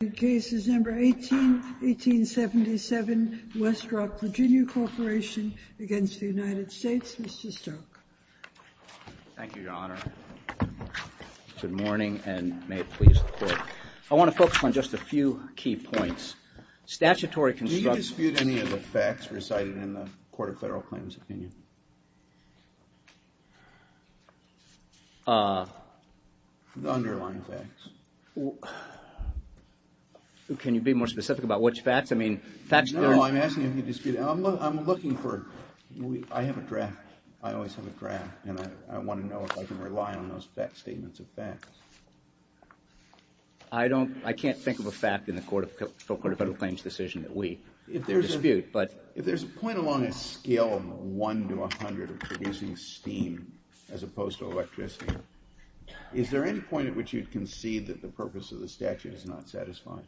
The case is number 18, 1877, Westrock Virginia Corporation against the United States. Mr. Stoke. Thank you, Your Honor. Good morning, and may it please the Court. I want to focus on just a few key points. Statutory constructions. Do you dispute any of the facts recited in the Court of Federal Claims? Can you be more specific about which facts? I mean, facts... No, I'm asking if you dispute... I'm looking for... I have a draft. I always have a draft, and I want to know if I can rely on those facts, statements of facts. I don't... I can't think of a fact in the Court of Federal Claims decision that we dispute, but... If there's a point along a scale of one to a hundred of producing steam as opposed to electricity, is there any point at which you'd concede that the purpose of the statute is not satisfying?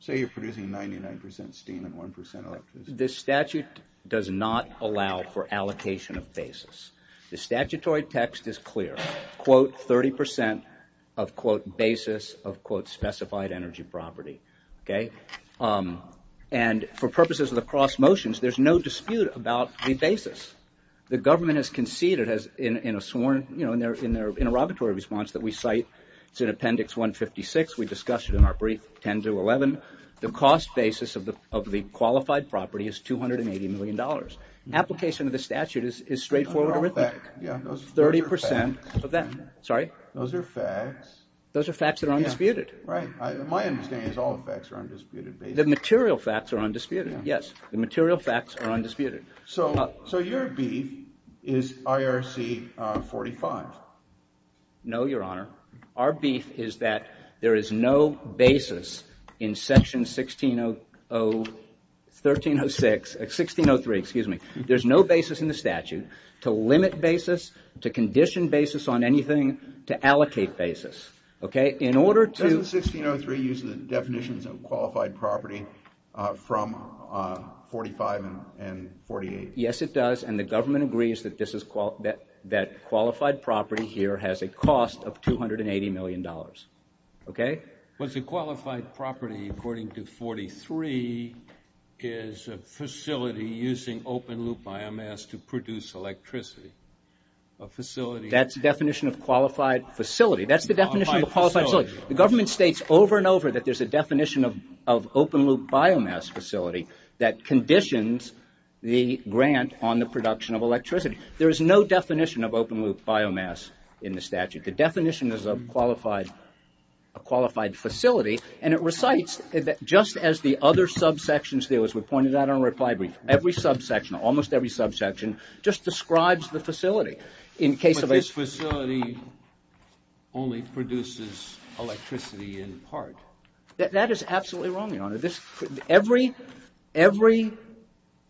Say you're producing 99% steam and 1% electricity. The statute does not allow for allocation of basis. The statutory text is clear. Quote, 30% of quote, basis of quote, specified energy property. Okay? And for purposes of the cross motions, there's no dispute about the basis. The government has conceded in a sworn, you know, in their interrogatory response that we cite, it's in Appendix 156. We discussed it in our brief 10 to 11. The cost basis of the qualified property is $280 million. Application of the statute is straightforward arithmetic. 30% of that. Sorry? Those are facts. Those are facts that are undisputed. Right. My understanding is all the facts are undisputed. The material facts are undisputed. Yes. The material facts are undisputed. So, so your beef is IRC 45. No, Your Honor. Our beef is that there is no basis in Section 1606, 1603, excuse me, there's no basis in the statute to limit basis, to condition basis on anything, to allocate basis. Okay. In order to... Doesn't 1603 use the definitions of qualified property from 45 and 48? Yes, it does. And the government agrees that qualified property here has a cost of $280 million. Okay? Was the qualified property, according to 43, is a facility using open-loop biomass to produce electricity? A facility... That's the definition of qualified facility. That's the definition of a qualified facility. The government states over and over that there's a definition of open-loop biomass facility that conditions the grant on the production of electricity. There is no definition of open-loop biomass in the statute. The definition is of qualified, a qualified facility. But this facility only produces electricity in part. That is absolutely wrong, Your Honor. This, every, every,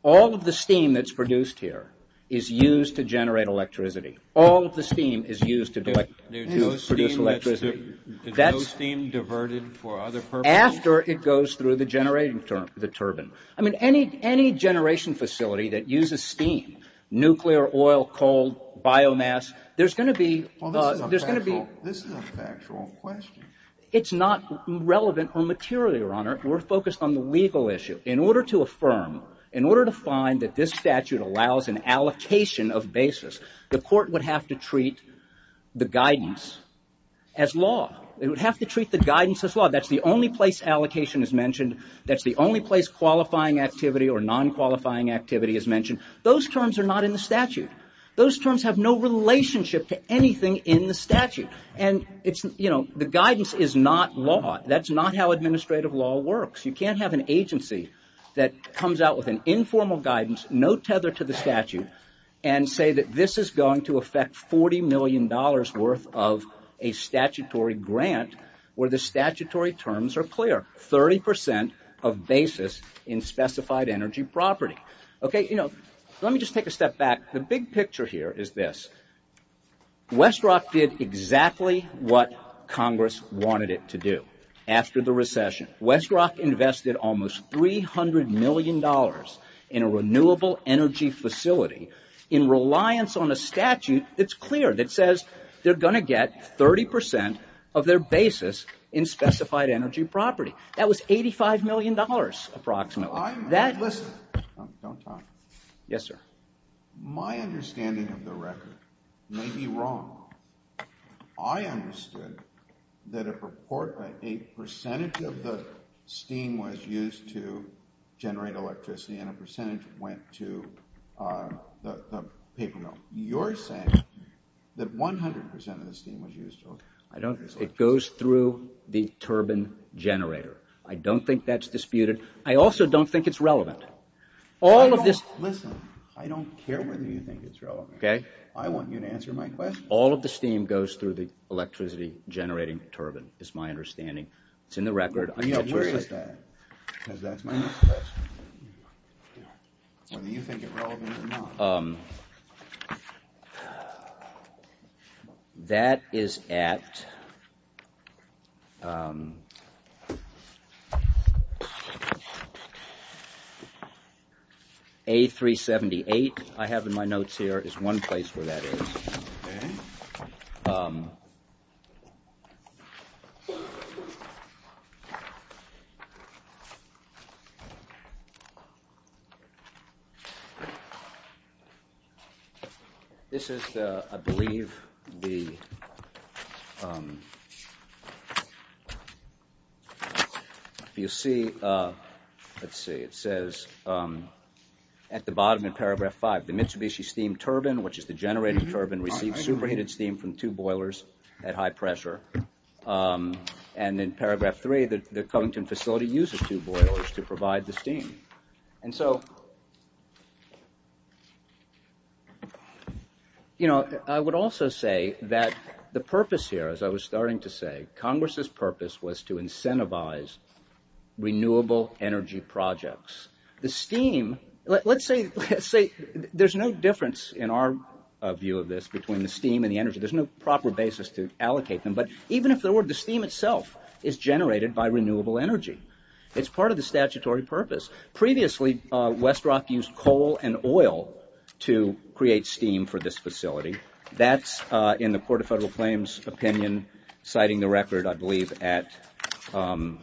all of the steam that's produced here is used to generate electricity. All of the steam is used to produce electricity. Is no steam diverted for other purposes? After it goes through the generating turbine. I mean, any generation facility that uses steam, nuclear, oil, coal, biomass, there's going to be... This is a factual question. It's not relevant or material, Your Honor. We're focused on the legal issue. In order to affirm, in order to find that this statute allows an allocation of basis, the court would have to treat the guidance as law. It would have to treat the guidance as law. That's the only place allocation is mentioned. That's the only place qualifying activity or non-qualifying activity is mentioned. Those terms are not in the statute. Those terms have no relationship to anything in the statute. And it's, you know, the guidance is not law. That's not how administrative law works. You can't have an agency that comes out with an informal guidance, no tether to the statute, and say that this is going to affect $40 million worth of a statutory grant where the statutory terms are clear. 30% of basis in specified energy property. Okay, you know, let me just take a step back. The big picture here is this. Westrock did exactly what Congress wanted it to do after the recession. Westrock invested almost $300 million in a renewable energy facility in reliance on a statute that's clear, that says they're going to get 30% of their basis in specified energy property. That was $85 million approximately. Don't talk. Yes, sir. My understanding of the record may be wrong. I understood that a percentage of the steam was used to generate electricity and a percentage went to the paper mill. You're saying that 100% of the steam was used to generate electricity. It goes through the turbine generator. I don't think that's disputed. I also don't think it's relevant. All of this... Listen, I don't care whether you think it's relevant. I want you to answer my question. All of the steam goes through the electricity generating turbine is my understanding. It's in the record. Because that's my question. Whether you think it's relevant or not. This is the, I believe, the, um, you'll see, uh, let's see, it says, um, at the bottom in paragraph five, the Mitsubishi steam turbine, which is the generating turbine received superheated steam from two boilers at high pressure. Um, and in paragraph three, the Covington facility uses two boilers to provide the steam. And so, you know, I would also say that the purpose here, as I was starting to say, Congress's purpose was to incentivize renewable energy projects. The steam, let's say, let's say there's no difference in our view of this between the steam and the energy. There's no proper basis to allocate them. But even if there were, the steam itself is generated by renewable energy. It's part of the statutory purpose. Previously, uh, Westrock used coal and oil to create steam for this facility. That's, uh, in the Court of Federal Claims opinion, citing the record, I believe at, um,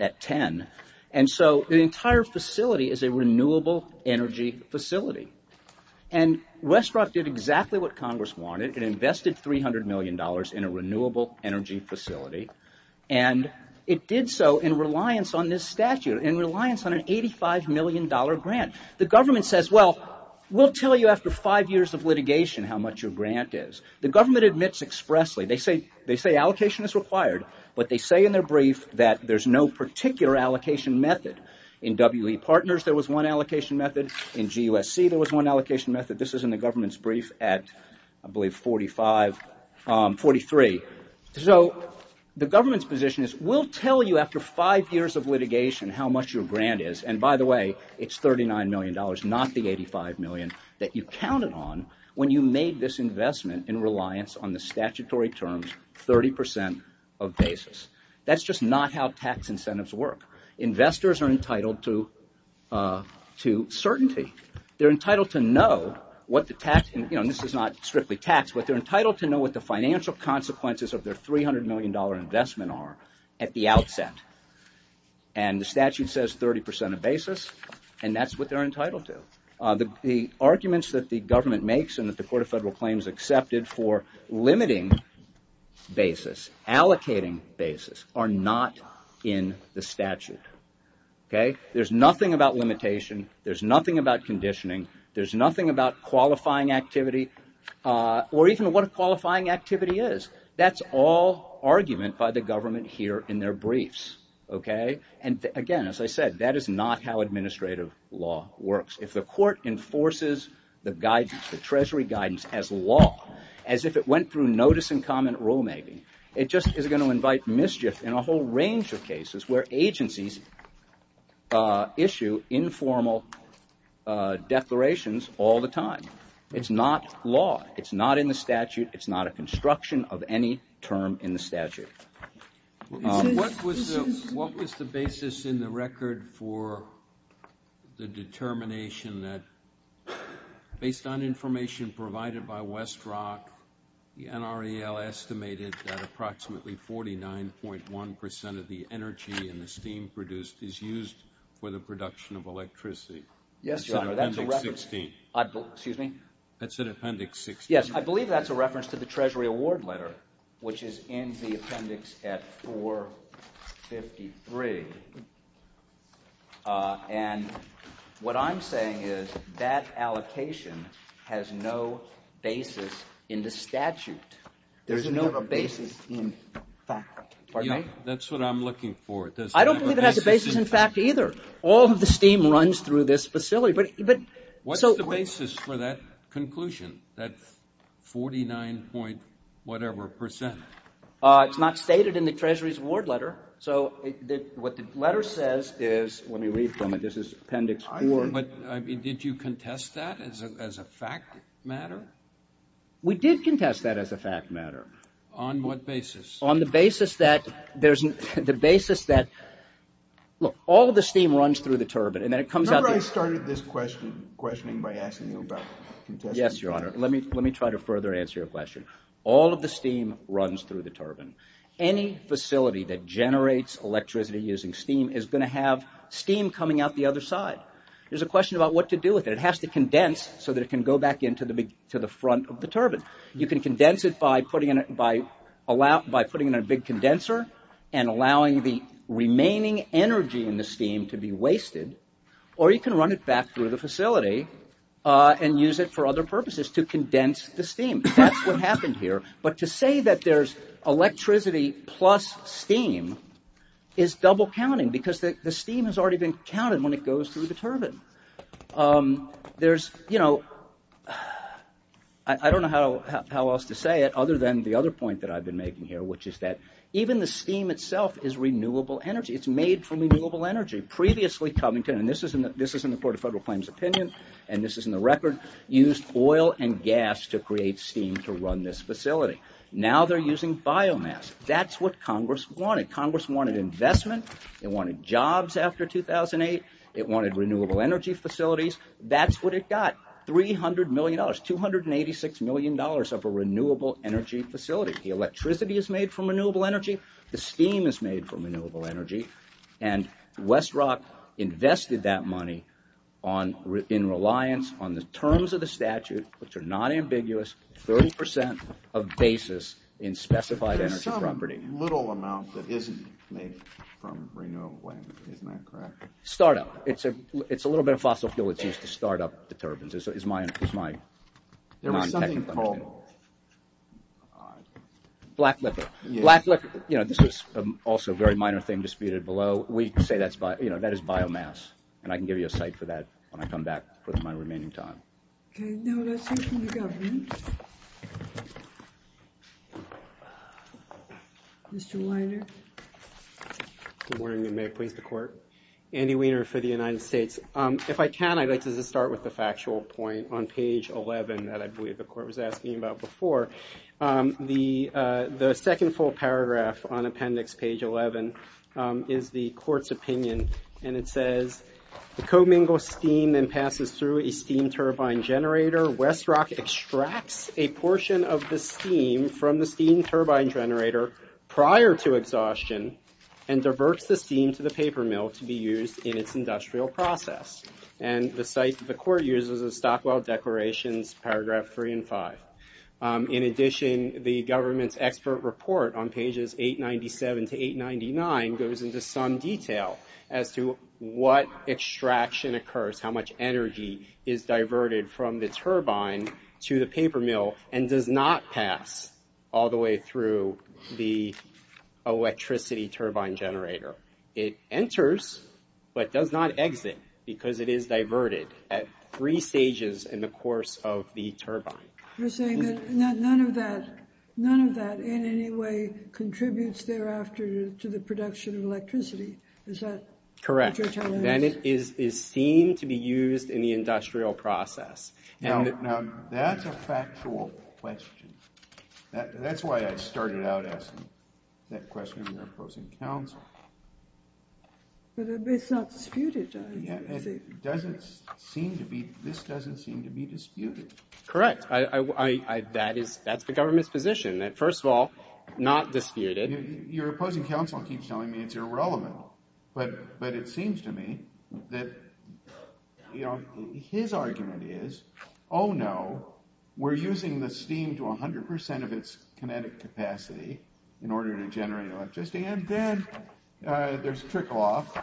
at 10. And so the entire facility is a renewable energy facility. And Westrock did exactly what Congress wanted. It invested $300 million in a renewable energy facility. And it did so in reliance on this statute, in reliance on an $85 million grant. The government says, well, we'll tell you after five years of litigation how much your grant is. The government admits expressly, they say, they say allocation is required, but they say in their brief that there's no particular allocation method. In W.E. Partners, there was one allocation method. In G.U.S.C., there was one allocation method. This is in the government's brief at, I believe, 45, um, 43. So the government's position is, we'll tell you after five years of litigation how much your grant is. And by the way, it's $39 million, not the $85 million that you counted on when you made this investment in reliance on the statutory terms 30% of basis. That's just not how tax incentives work. Investors are entitled to certainty. They're entitled to know what the tax, you know, this is not strictly tax, but they're entitled to know what the financial consequences of their $300 million investment are at the outset. And the statute says 30% of basis, and that's what they're entitled to. The arguments that the government makes and that the Court of Federal Claims accepted for limiting basis, allocating basis, are not in the statute. Okay? There's nothing about limitation, there's nothing about conditioning, there's nothing about qualifying activity, or even what a qualifying activity is. That's all argument by the government here in their briefs. Okay? And again, as I said, that is not how administrative law works. If the court enforces the guidance, the treasury guidance as law, as if it went through notice and comment rulemaking, it just is going to invite mischief in a whole range of cases where agencies issue informal declarations all the time. It's not law. It's not in the statute. It's not a construction of any term in the statute. What was the basis in the record for the determination that, based on information provided by Westrock, the NREL estimated that approximately 49.1% of the energy in the steam produced is used for the production of electricity? Yes, Your Honor, that's a reference. That's in Appendix 16. Excuse me? That's in Appendix 16. Yes, I believe that's a reference to the treasury award letter, which is in the appendix at 453. And what I'm saying is that allocation has no basis in the statute. There's no basis in fact. Pardon me? That's what I'm looking for. I don't believe it has a basis in fact either. All of the steam runs through this facility. What's the basis for that conclusion, that 49 point whatever percent? It's not stated in the treasury's award letter. So what the letter says is, let me read from it. This is Appendix 4. Did you contest that as a fact matter? We did contest that as a fact matter. On what basis? On the basis that all of the steam runs through the turbine. Remember I started this questioning by asking you about contesting? Yes, Your Honor. Let me try to further answer your question. All of the steam runs through the turbine. Any facility that generates electricity using steam is going to have steam coming out the other side. There's a question about what to do with it. It has to condense so that it can go back into the front of the turbine. You can condense it by putting in a big condenser and allowing the remaining energy in the steam to be wasted. Or you can run it back through the facility and use it for other purposes to condense the steam. That's what happened here. But to say that there's electricity plus steam is double counting because the steam has already been counted when it goes through the turbine. I don't know how else to say it other than the other point that I've been making here, which is that even the steam itself is renewable energy. It's made from renewable energy. Previously, Covington, and this is in the Court of Federal Claims opinion, and this is in the record, used oil and gas to create steam to run this facility. Now they're using biomass. That's what Congress wanted. Congress wanted investment. It wanted jobs after 2008. It wanted renewable energy facilities. That's what it got, $300 million, $286 million of a renewable energy facility. The electricity is made from renewable energy. The steam is made from renewable energy. And Westrock invested that money in reliance on the terms of the statute, which are not ambiguous, 30% of basis in specified energy property. There's some little amount that isn't made from renewable energy. Isn't that correct? Start-up. It's a little bit of fossil fuel that's used to start up the turbines. It's my non-technical opinion. There was something called – Black liquor. Black liquor. You know, this was also a very minor thing disputed below. We say that is biomass, and I can give you a cite for that when I come back for my remaining time. Okay. Now let's hear from the government. Mr. Weiner. Good morning, and may it please the court. Andy Weiner for the United States. If I can, I'd like to just start with the factual point on page 11 that I believe the court was asking about before. The second full paragraph on appendix page 11 is the court's opinion, and it says, The commingle steam then passes through a steam turbine generator. Westrock extracts a portion of the steam from the steam turbine generator prior to exhaustion and diverts the steam to the paper mill to be used in its industrial process. And the cite that the court uses is Stockwell Declarations, paragraph 3 and 5. In addition, the government's expert report on pages 897 to 899 goes into some detail as to what extraction occurs, how much energy is diverted from the turbine to the paper mill and does not pass all the way through the electricity turbine generator. It enters but does not exit because it is diverted at three stages in the course of the turbine. You're saying that none of that in any way contributes thereafter to the production of electricity. Is that what you're telling us? Correct. Then it is seen to be used in the industrial process. Now, that's a factual question. That's why I started out asking that question to your opposing counsel. But it's not disputed, I think. It doesn't seem to be. This doesn't seem to be disputed. Correct. That's the government's position, that first of all, not disputed. Your opposing counsel keeps telling me it's irrelevant. But it seems to me that his argument is, oh no, we're using the steam to 100% of its kinetic capacity in order to generate electricity. And then there's trickle-off,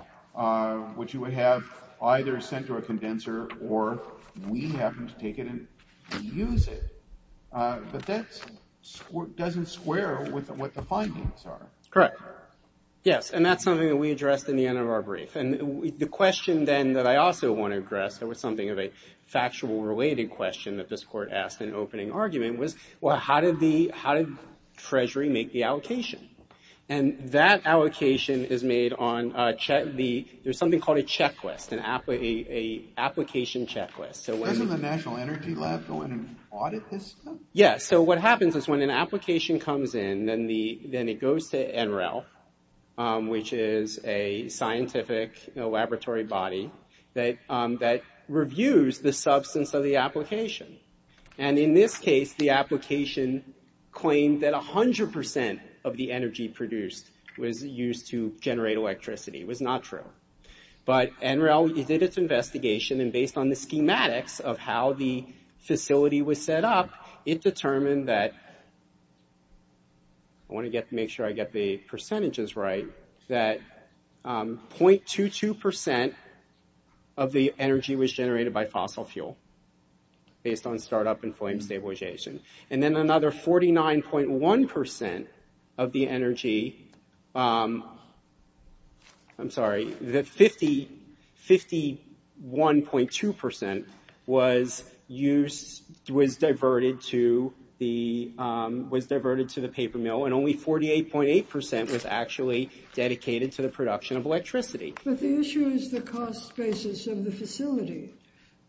which you would have either sent to a condenser or we happen to take it and use it. But that doesn't square with what the findings are. Correct. Yes, and that's something that we addressed in the end of our brief. And the question then that I also want to address, it was something of a factual related question that this court asked in opening argument, was how did Treasury make the allocation? And that allocation is made on – there's something called a checklist, an application checklist. Doesn't the National Energy Lab go in and audit this stuff? Yes, so what happens is when an application comes in, then it goes to NREL, which is a scientific laboratory body that reviews the substance of the application. And in this case, the application claimed that 100% of the energy produced was used to generate electricity. It was not true. But NREL did its investigation, and based on the schematics of how the facility was set up, it determined that – I want to make sure I get the percentages right – that 0.22% of the energy was generated by fossil fuel, based on startup and flame stabilization. And then another 49.1% of the energy – I'm sorry, 51.2% was used – was diverted to the paper mill, and only 48.8% was actually dedicated to the production of electricity. But the issue is the cost basis of the facility,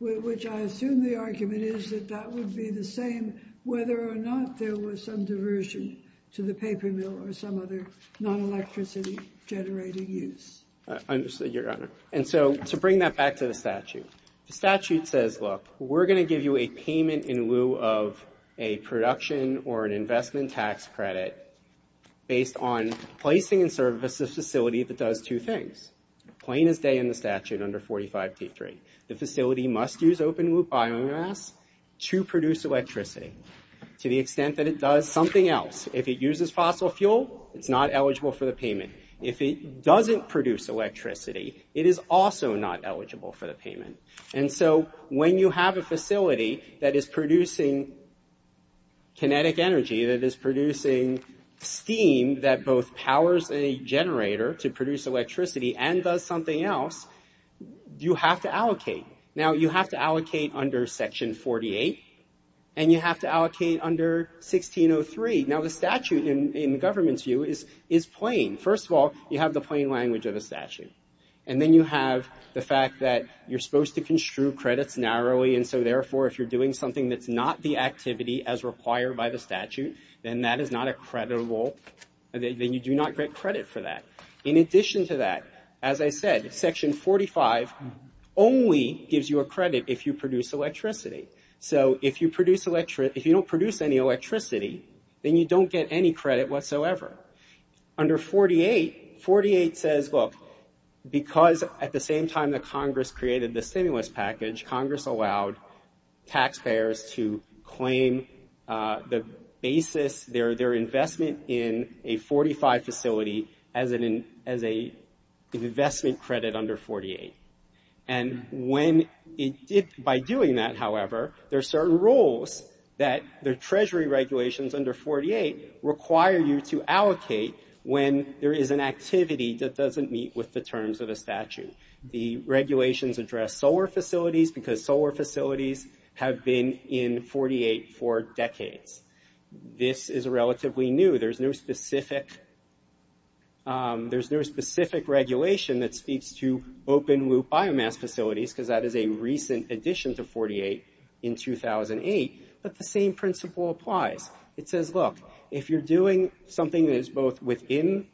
which I assume the argument is that that would be the same whether or not there was some diversion to the paper mill or some other non-electricity-generating use. I understand, Your Honor. And so to bring that back to the statute, the statute says, look, we're going to give you a payment in lieu of a production or an investment tax credit based on placing in service a facility that does two things. Plain as day in the statute under 45.23. The facility must use open-loop biomass to produce electricity to the extent that it does something else. If it uses fossil fuel, it's not eligible for the payment. If it doesn't produce electricity, it is also not eligible for the payment. And so when you have a facility that is producing kinetic energy, that is producing steam that both powers a generator to produce electricity and does something else, you have to allocate. Now, you have to allocate under Section 48, and you have to allocate under 1603. Now, the statute, in government's view, is plain. First of all, you have the plain language of the statute. And then you have the fact that you're supposed to construe credits narrowly, and so, therefore, if you're doing something that's not the activity as required by the statute, then that is not a creditable, then you do not get credit for that. In addition to that, as I said, Section 45 only gives you a credit if you produce electricity. So if you don't produce any electricity, then you don't get any credit whatsoever. Under 48, 48 says, look, because at the same time that Congress created the stimulus package, Congress allowed taxpayers to claim the basis, their investment in a 45 facility as an investment credit under 48. And when it did, by doing that, however, there are certain rules that the Treasury regulations under 48 require you to allocate when there is an activity that doesn't meet with the terms of the statute. The regulations address solar facilities, because solar facilities have been in 48 for decades. This is relatively new. There's no specific regulation that speaks to open-loop biomass facilities, because that is a recent addition to 48 in 2008. But the same principle applies. It says, look, if you're doing something that is both within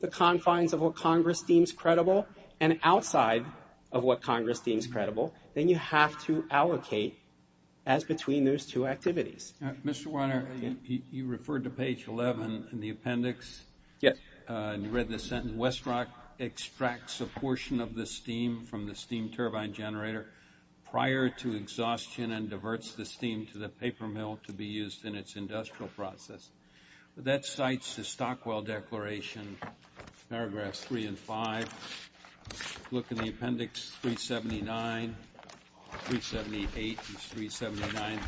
the confines of what Congress deems credible and outside of what Congress deems credible, then you have to allocate as between those two activities. Mr. Weiner, you referred to page 11 in the appendix. Yes. You read the sentence, Westrock extracts a portion of the steam from the steam turbine generator prior to exhaustion and diverts the steam to the paper mill to be used in its industrial process. That cites the Stockwell Declaration, paragraphs 3 and 5. Look in the appendix 379, 378 is 379.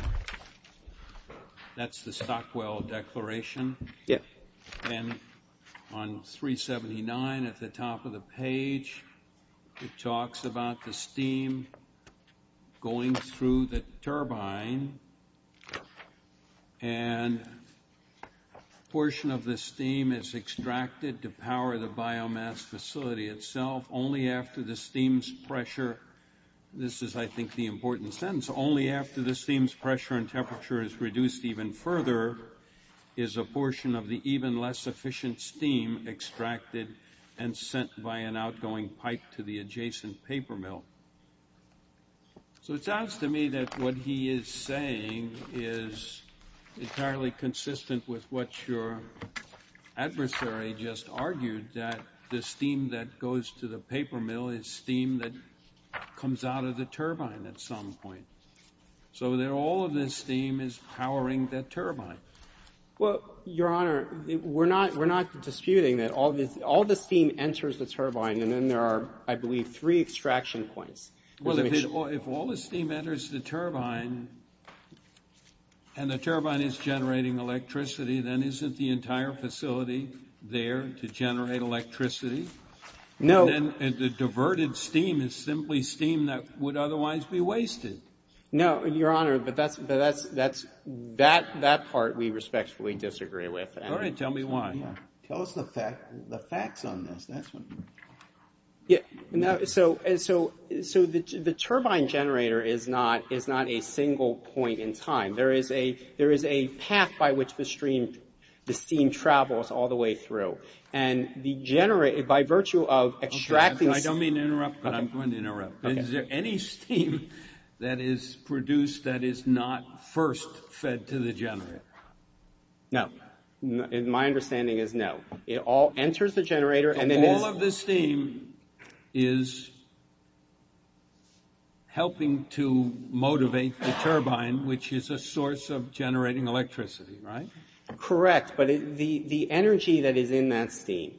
That's the Stockwell Declaration. Yes. And on 379 at the top of the page, and a portion of the steam is extracted to power the biomass facility itself only after the steam's pressure. This is, I think, the important sentence. Only after the steam's pressure and temperature is reduced even further is a portion of the even less efficient steam extracted and sent by an outgoing pipe to the adjacent paper mill. So it sounds to me that what he is saying is entirely consistent with what your adversary just argued, that the steam that goes to the paper mill is steam that comes out of the turbine at some point, so that all of the steam is powering the turbine. Well, Your Honor, we're not disputing that all the steam enters the turbine, and then there are, I believe, three extraction points. Well, if all the steam enters the turbine and the turbine is generating electricity, then isn't the entire facility there to generate electricity? No. And the diverted steam is simply steam that would otherwise be wasted. No, Your Honor, but that part we respectfully disagree with. All right, tell me why. Tell us the facts on this. So the turbine generator is not a single point in time. There is a path by which the steam travels all the way through, and by virtue of extracting— I don't mean to interrupt, but I'm going to interrupt. Is there any steam that is produced that is not first fed to the generator? No. My understanding is no. It all enters the generator, and it is— So all of the steam is helping to motivate the turbine, which is a source of generating electricity, right? Correct, but the energy that is in that steam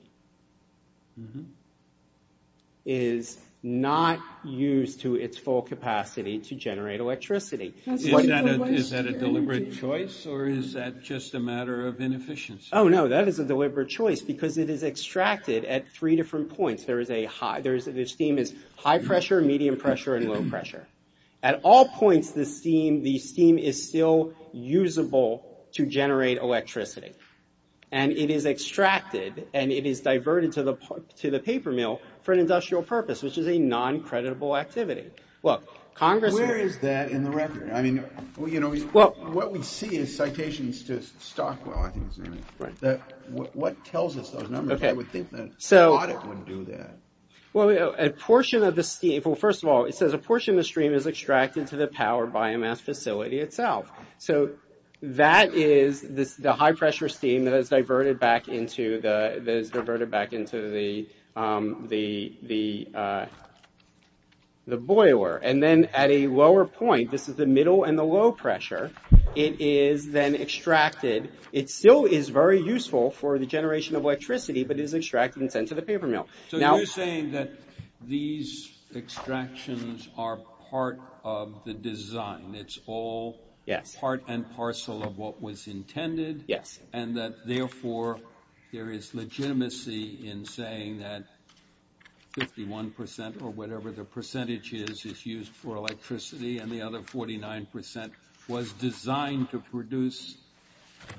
is not used to its full capacity to generate electricity. Is that a deliberate choice, or is that just a matter of inefficiency? Oh, no, that is a deliberate choice because it is extracted at three different points. The steam is high-pressure, medium-pressure, and low-pressure. At all points, the steam is still usable to generate electricity, and it is extracted, and it is diverted to the paper mill for an industrial purpose, which is a noncreditable activity. Where is that in the record? I mean, what we see is citations to Stockwell, I think his name is. What tells us those numbers? I would think that an audit would do that. Well, a portion of the steam— Well, first of all, it says a portion of the steam is extracted to the power biomass facility itself. So that is the high-pressure steam that is diverted back into the boiler. And then at a lower point, this is the middle and the low-pressure, it is then extracted. It still is very useful for the generation of electricity, but it is extracted and sent to the paper mill. So you're saying that these extractions are part of the design. It's all part and parcel of what was intended. Yes. And that, therefore, there is legitimacy in saying that 51%, or whatever the percentage is used for electricity, and the other 49% was designed to produce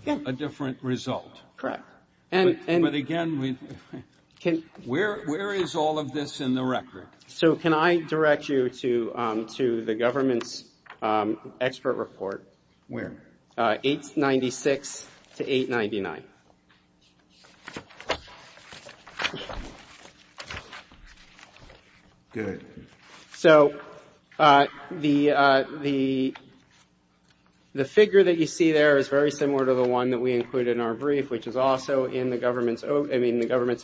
a different result. Correct. But again, where is all of this in the record? So can I direct you to the government's expert report? Where? 896 to 899. Good. So the figure that you see there is very similar to the one that we included in our brief, which is also in the government's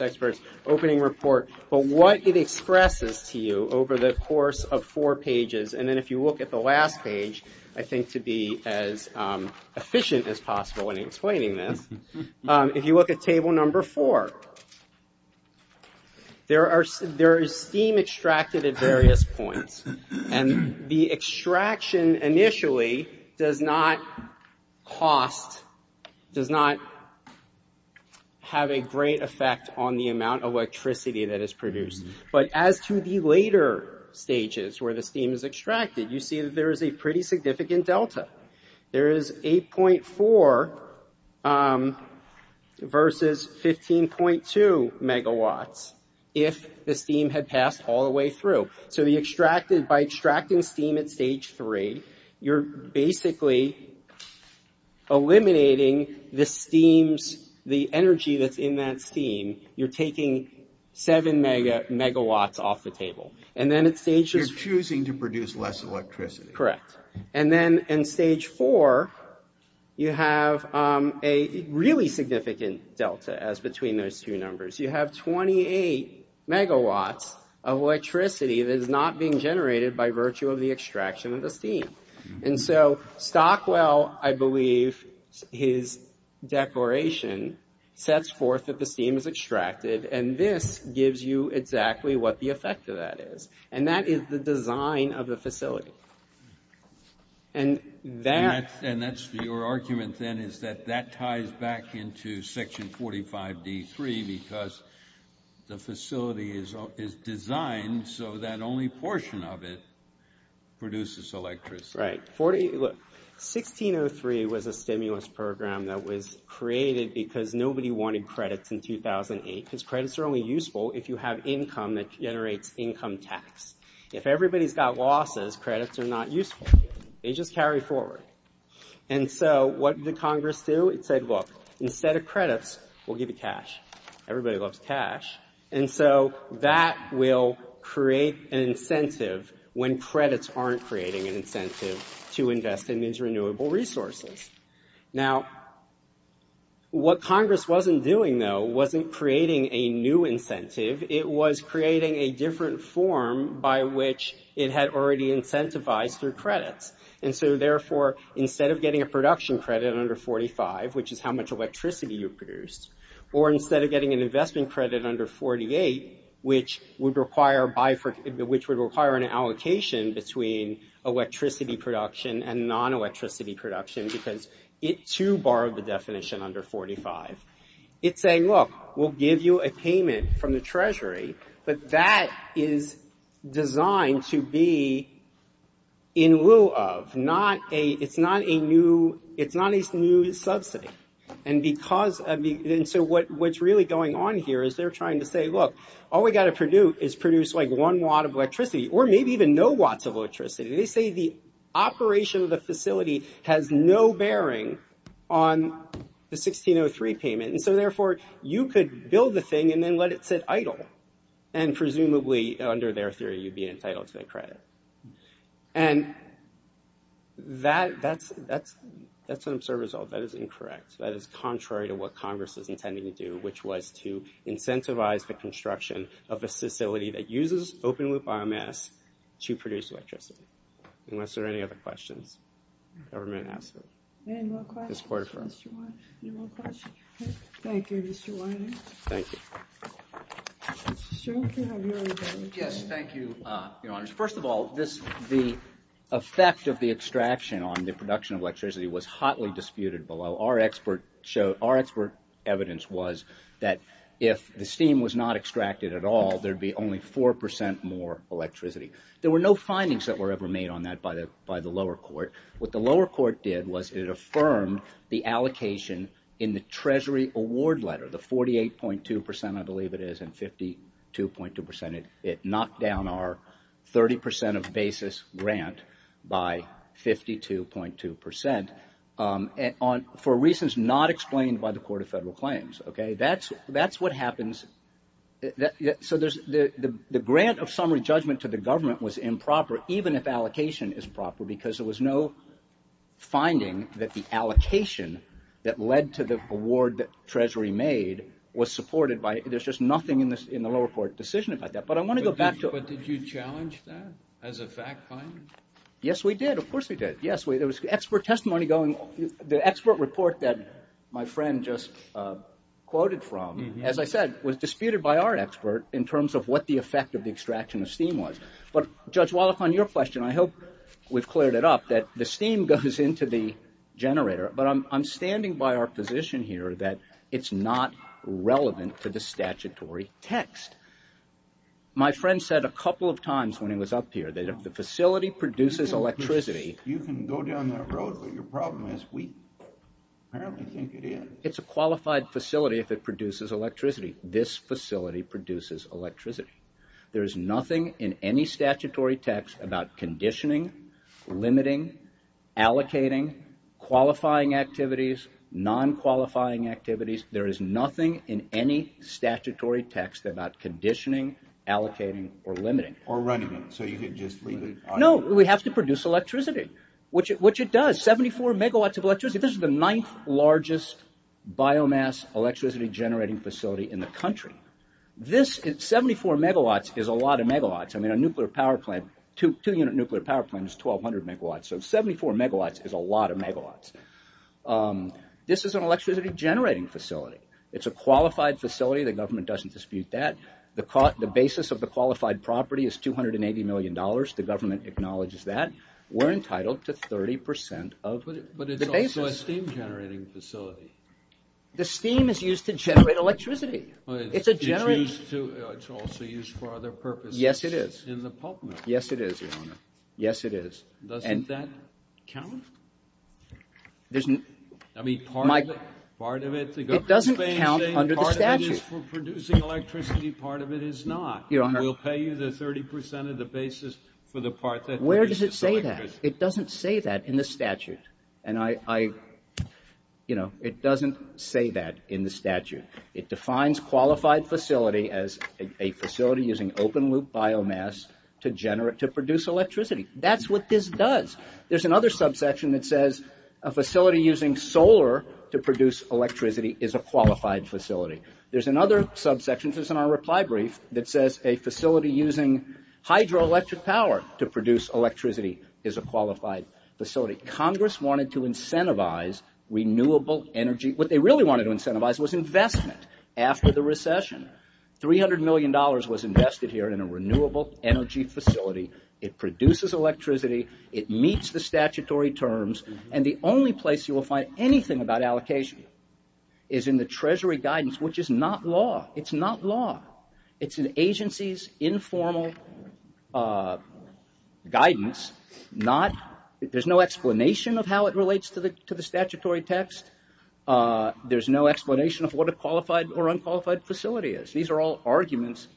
expert's opening report. But what it expresses to you over the course of four pages, and then if you look at the last page, which I think to be as efficient as possible in explaining this, if you look at table number four, there is steam extracted at various points. And the extraction initially does not cost, does not have a great effect on the amount of electricity that is produced. You see that there is a pretty significant delta. There is 8.4 versus 15.2 megawatts if the steam had passed all the way through. So by extracting steam at stage three, you're basically eliminating the energy that's in that steam. You're taking seven megawatts off the table. You're choosing to produce less electricity. Correct. And then in stage four, you have a really significant delta as between those two numbers. You have 28 megawatts of electricity that is not being generated by virtue of the extraction of the steam. And so Stockwell, I believe his declaration, sets forth that the steam is extracted, and this gives you exactly what the effect of that is. And that is the design of the facility. And that's your argument then is that that ties back into section 45 D3 because the facility is designed so that only portion of it produces electricity. Right. 1603 was a stimulus program that was created because nobody wanted credits in 2008 because credits are only useful if you have income that generates income tax. If everybody's got losses, credits are not useful. They just carry forward. And so what did Congress do? It said, look, instead of credits, we'll give you cash. Everybody loves cash. And so that will create an incentive when credits aren't creating an incentive to invest in these renewable resources. Now, what Congress wasn't doing, though, wasn't creating a new incentive. It was creating a different form by which it had already incentivized through credits. And so, therefore, instead of getting a production credit under 45, which is how much electricity you produced, or instead of getting an investment credit under 48, which would require an allocation between electricity production and non-electricity production because it, too, borrowed the definition under 45. It's saying, look, we'll give you a payment from the Treasury, but that is designed to be in lieu of. It's not a new subsidy. And so what's really going on here is they're trying to say, look, all we've got to produce is produce like one watt of electricity or maybe even no watts of electricity. They say the operation of the facility has no bearing on the 1603 payment. And so, therefore, you could build the thing and then let it sit idle and presumably, under their theory, you'd be entitled to the credit. And that's an absurd result. That is incorrect. That is contrary to what Congress is intending to do, which was to incentivize the construction of a facility that uses open-loop RMS to produce electricity, unless there are any other questions the government has. Any more questions? Ms. Quarterford. Any more questions? Thank you, Mr. Whiting. Thank you. Mr. Strunk, you have your opinion. Yes, thank you, Your Honors. First of all, the effect of the extraction on the production of electricity was hotly disputed below. Our expert evidence was that if the steam was not extracted at all, there'd be only 4% more electricity. There were no findings that were ever made on that by the lower court. What the lower court did was it affirmed the allocation in the Treasury Award Letter, the 48.2%, I believe it is, and 52.2%. It knocked down our 30% of basis grant by 52.2% for reasons not explained by the Court of Federal Claims. That's what happens. So the grant of summary judgment to the government was improper, even if allocation is proper, because there was no finding that the allocation that led to the award that Treasury made was supported by it. There's just nothing in the lower court decision about that. But I want to go back to... But did you challenge that as a fact finding? Yes, we did. Of course we did. Yes, there was expert testimony going. The expert report that my friend just quoted from, as I said, was disputed by our expert in terms of what the effect of the extraction of steam was. But Judge Wallach, on your question, I hope we've cleared it up, that the steam goes into the generator, but I'm standing by our position here that it's not relevant to the statutory text. My friend said a couple of times when he was up here that if the facility produces electricity... You can go down that road, but your problem is we apparently think it is. It's a qualified facility if it produces electricity. This facility produces electricity. There is nothing in any statutory text about conditioning, limiting, allocating, qualifying activities, non-qualifying activities. There is nothing in any statutory text about conditioning, allocating, or limiting. Or running it, so you could just leave it... No, we have to produce electricity, which it does. 74 megawatts of electricity. This is the ninth largest biomass electricity generating facility in the country. 74 megawatts is a lot of megawatts. A two-unit nuclear power plant is 1,200 megawatts, so 74 megawatts is a lot of megawatts. This is an electricity generating facility. It's a qualified facility. The government doesn't dispute that. The basis of the qualified property is $280 million. The government acknowledges that. We're entitled to 30% of the basis. But it's also a steam generating facility. The steam is used to generate electricity. It's also used for other purposes. Yes, it is. In the pulp mill. Yes, it is, Your Honor. Yes, it is. Doesn't that count? It doesn't count under the statute. Part of it is for producing electricity, part of it is not. We'll pay you the 30% of the basis for the part that produces electricity. Where does it say that? It doesn't say that in the statute. And I, you know, it doesn't say that in the statute. It defines qualified facility as a facility using open-loop biomass to produce electricity. That's what this does. There's another subsection that says a facility using solar to produce electricity is a qualified facility. There's another subsection that's in our reply brief that says a facility using hydroelectric power to produce electricity is a qualified facility. Congress wanted to incentivize renewable energy. What they really wanted to incentivize was investment after the recession. $300 million was invested here in a renewable energy facility. It produces electricity. It meets the statutory terms. And the only place you will find anything about allocation is in the treasury guidance, which is not law. It's not law. It's an agency's informal guidance. There's no explanation of how it relates to the statutory text. There's no explanation of what a qualified or unqualified facility is. These are all arguments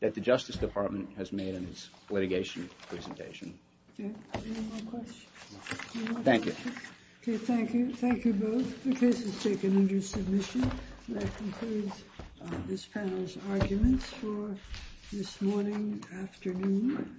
that the Justice Department has made in its litigation presentation. Any more questions? Thank you. Okay, thank you. Thank you both. The case is taken under submission. That concludes this panel's arguments for this morning afternoon.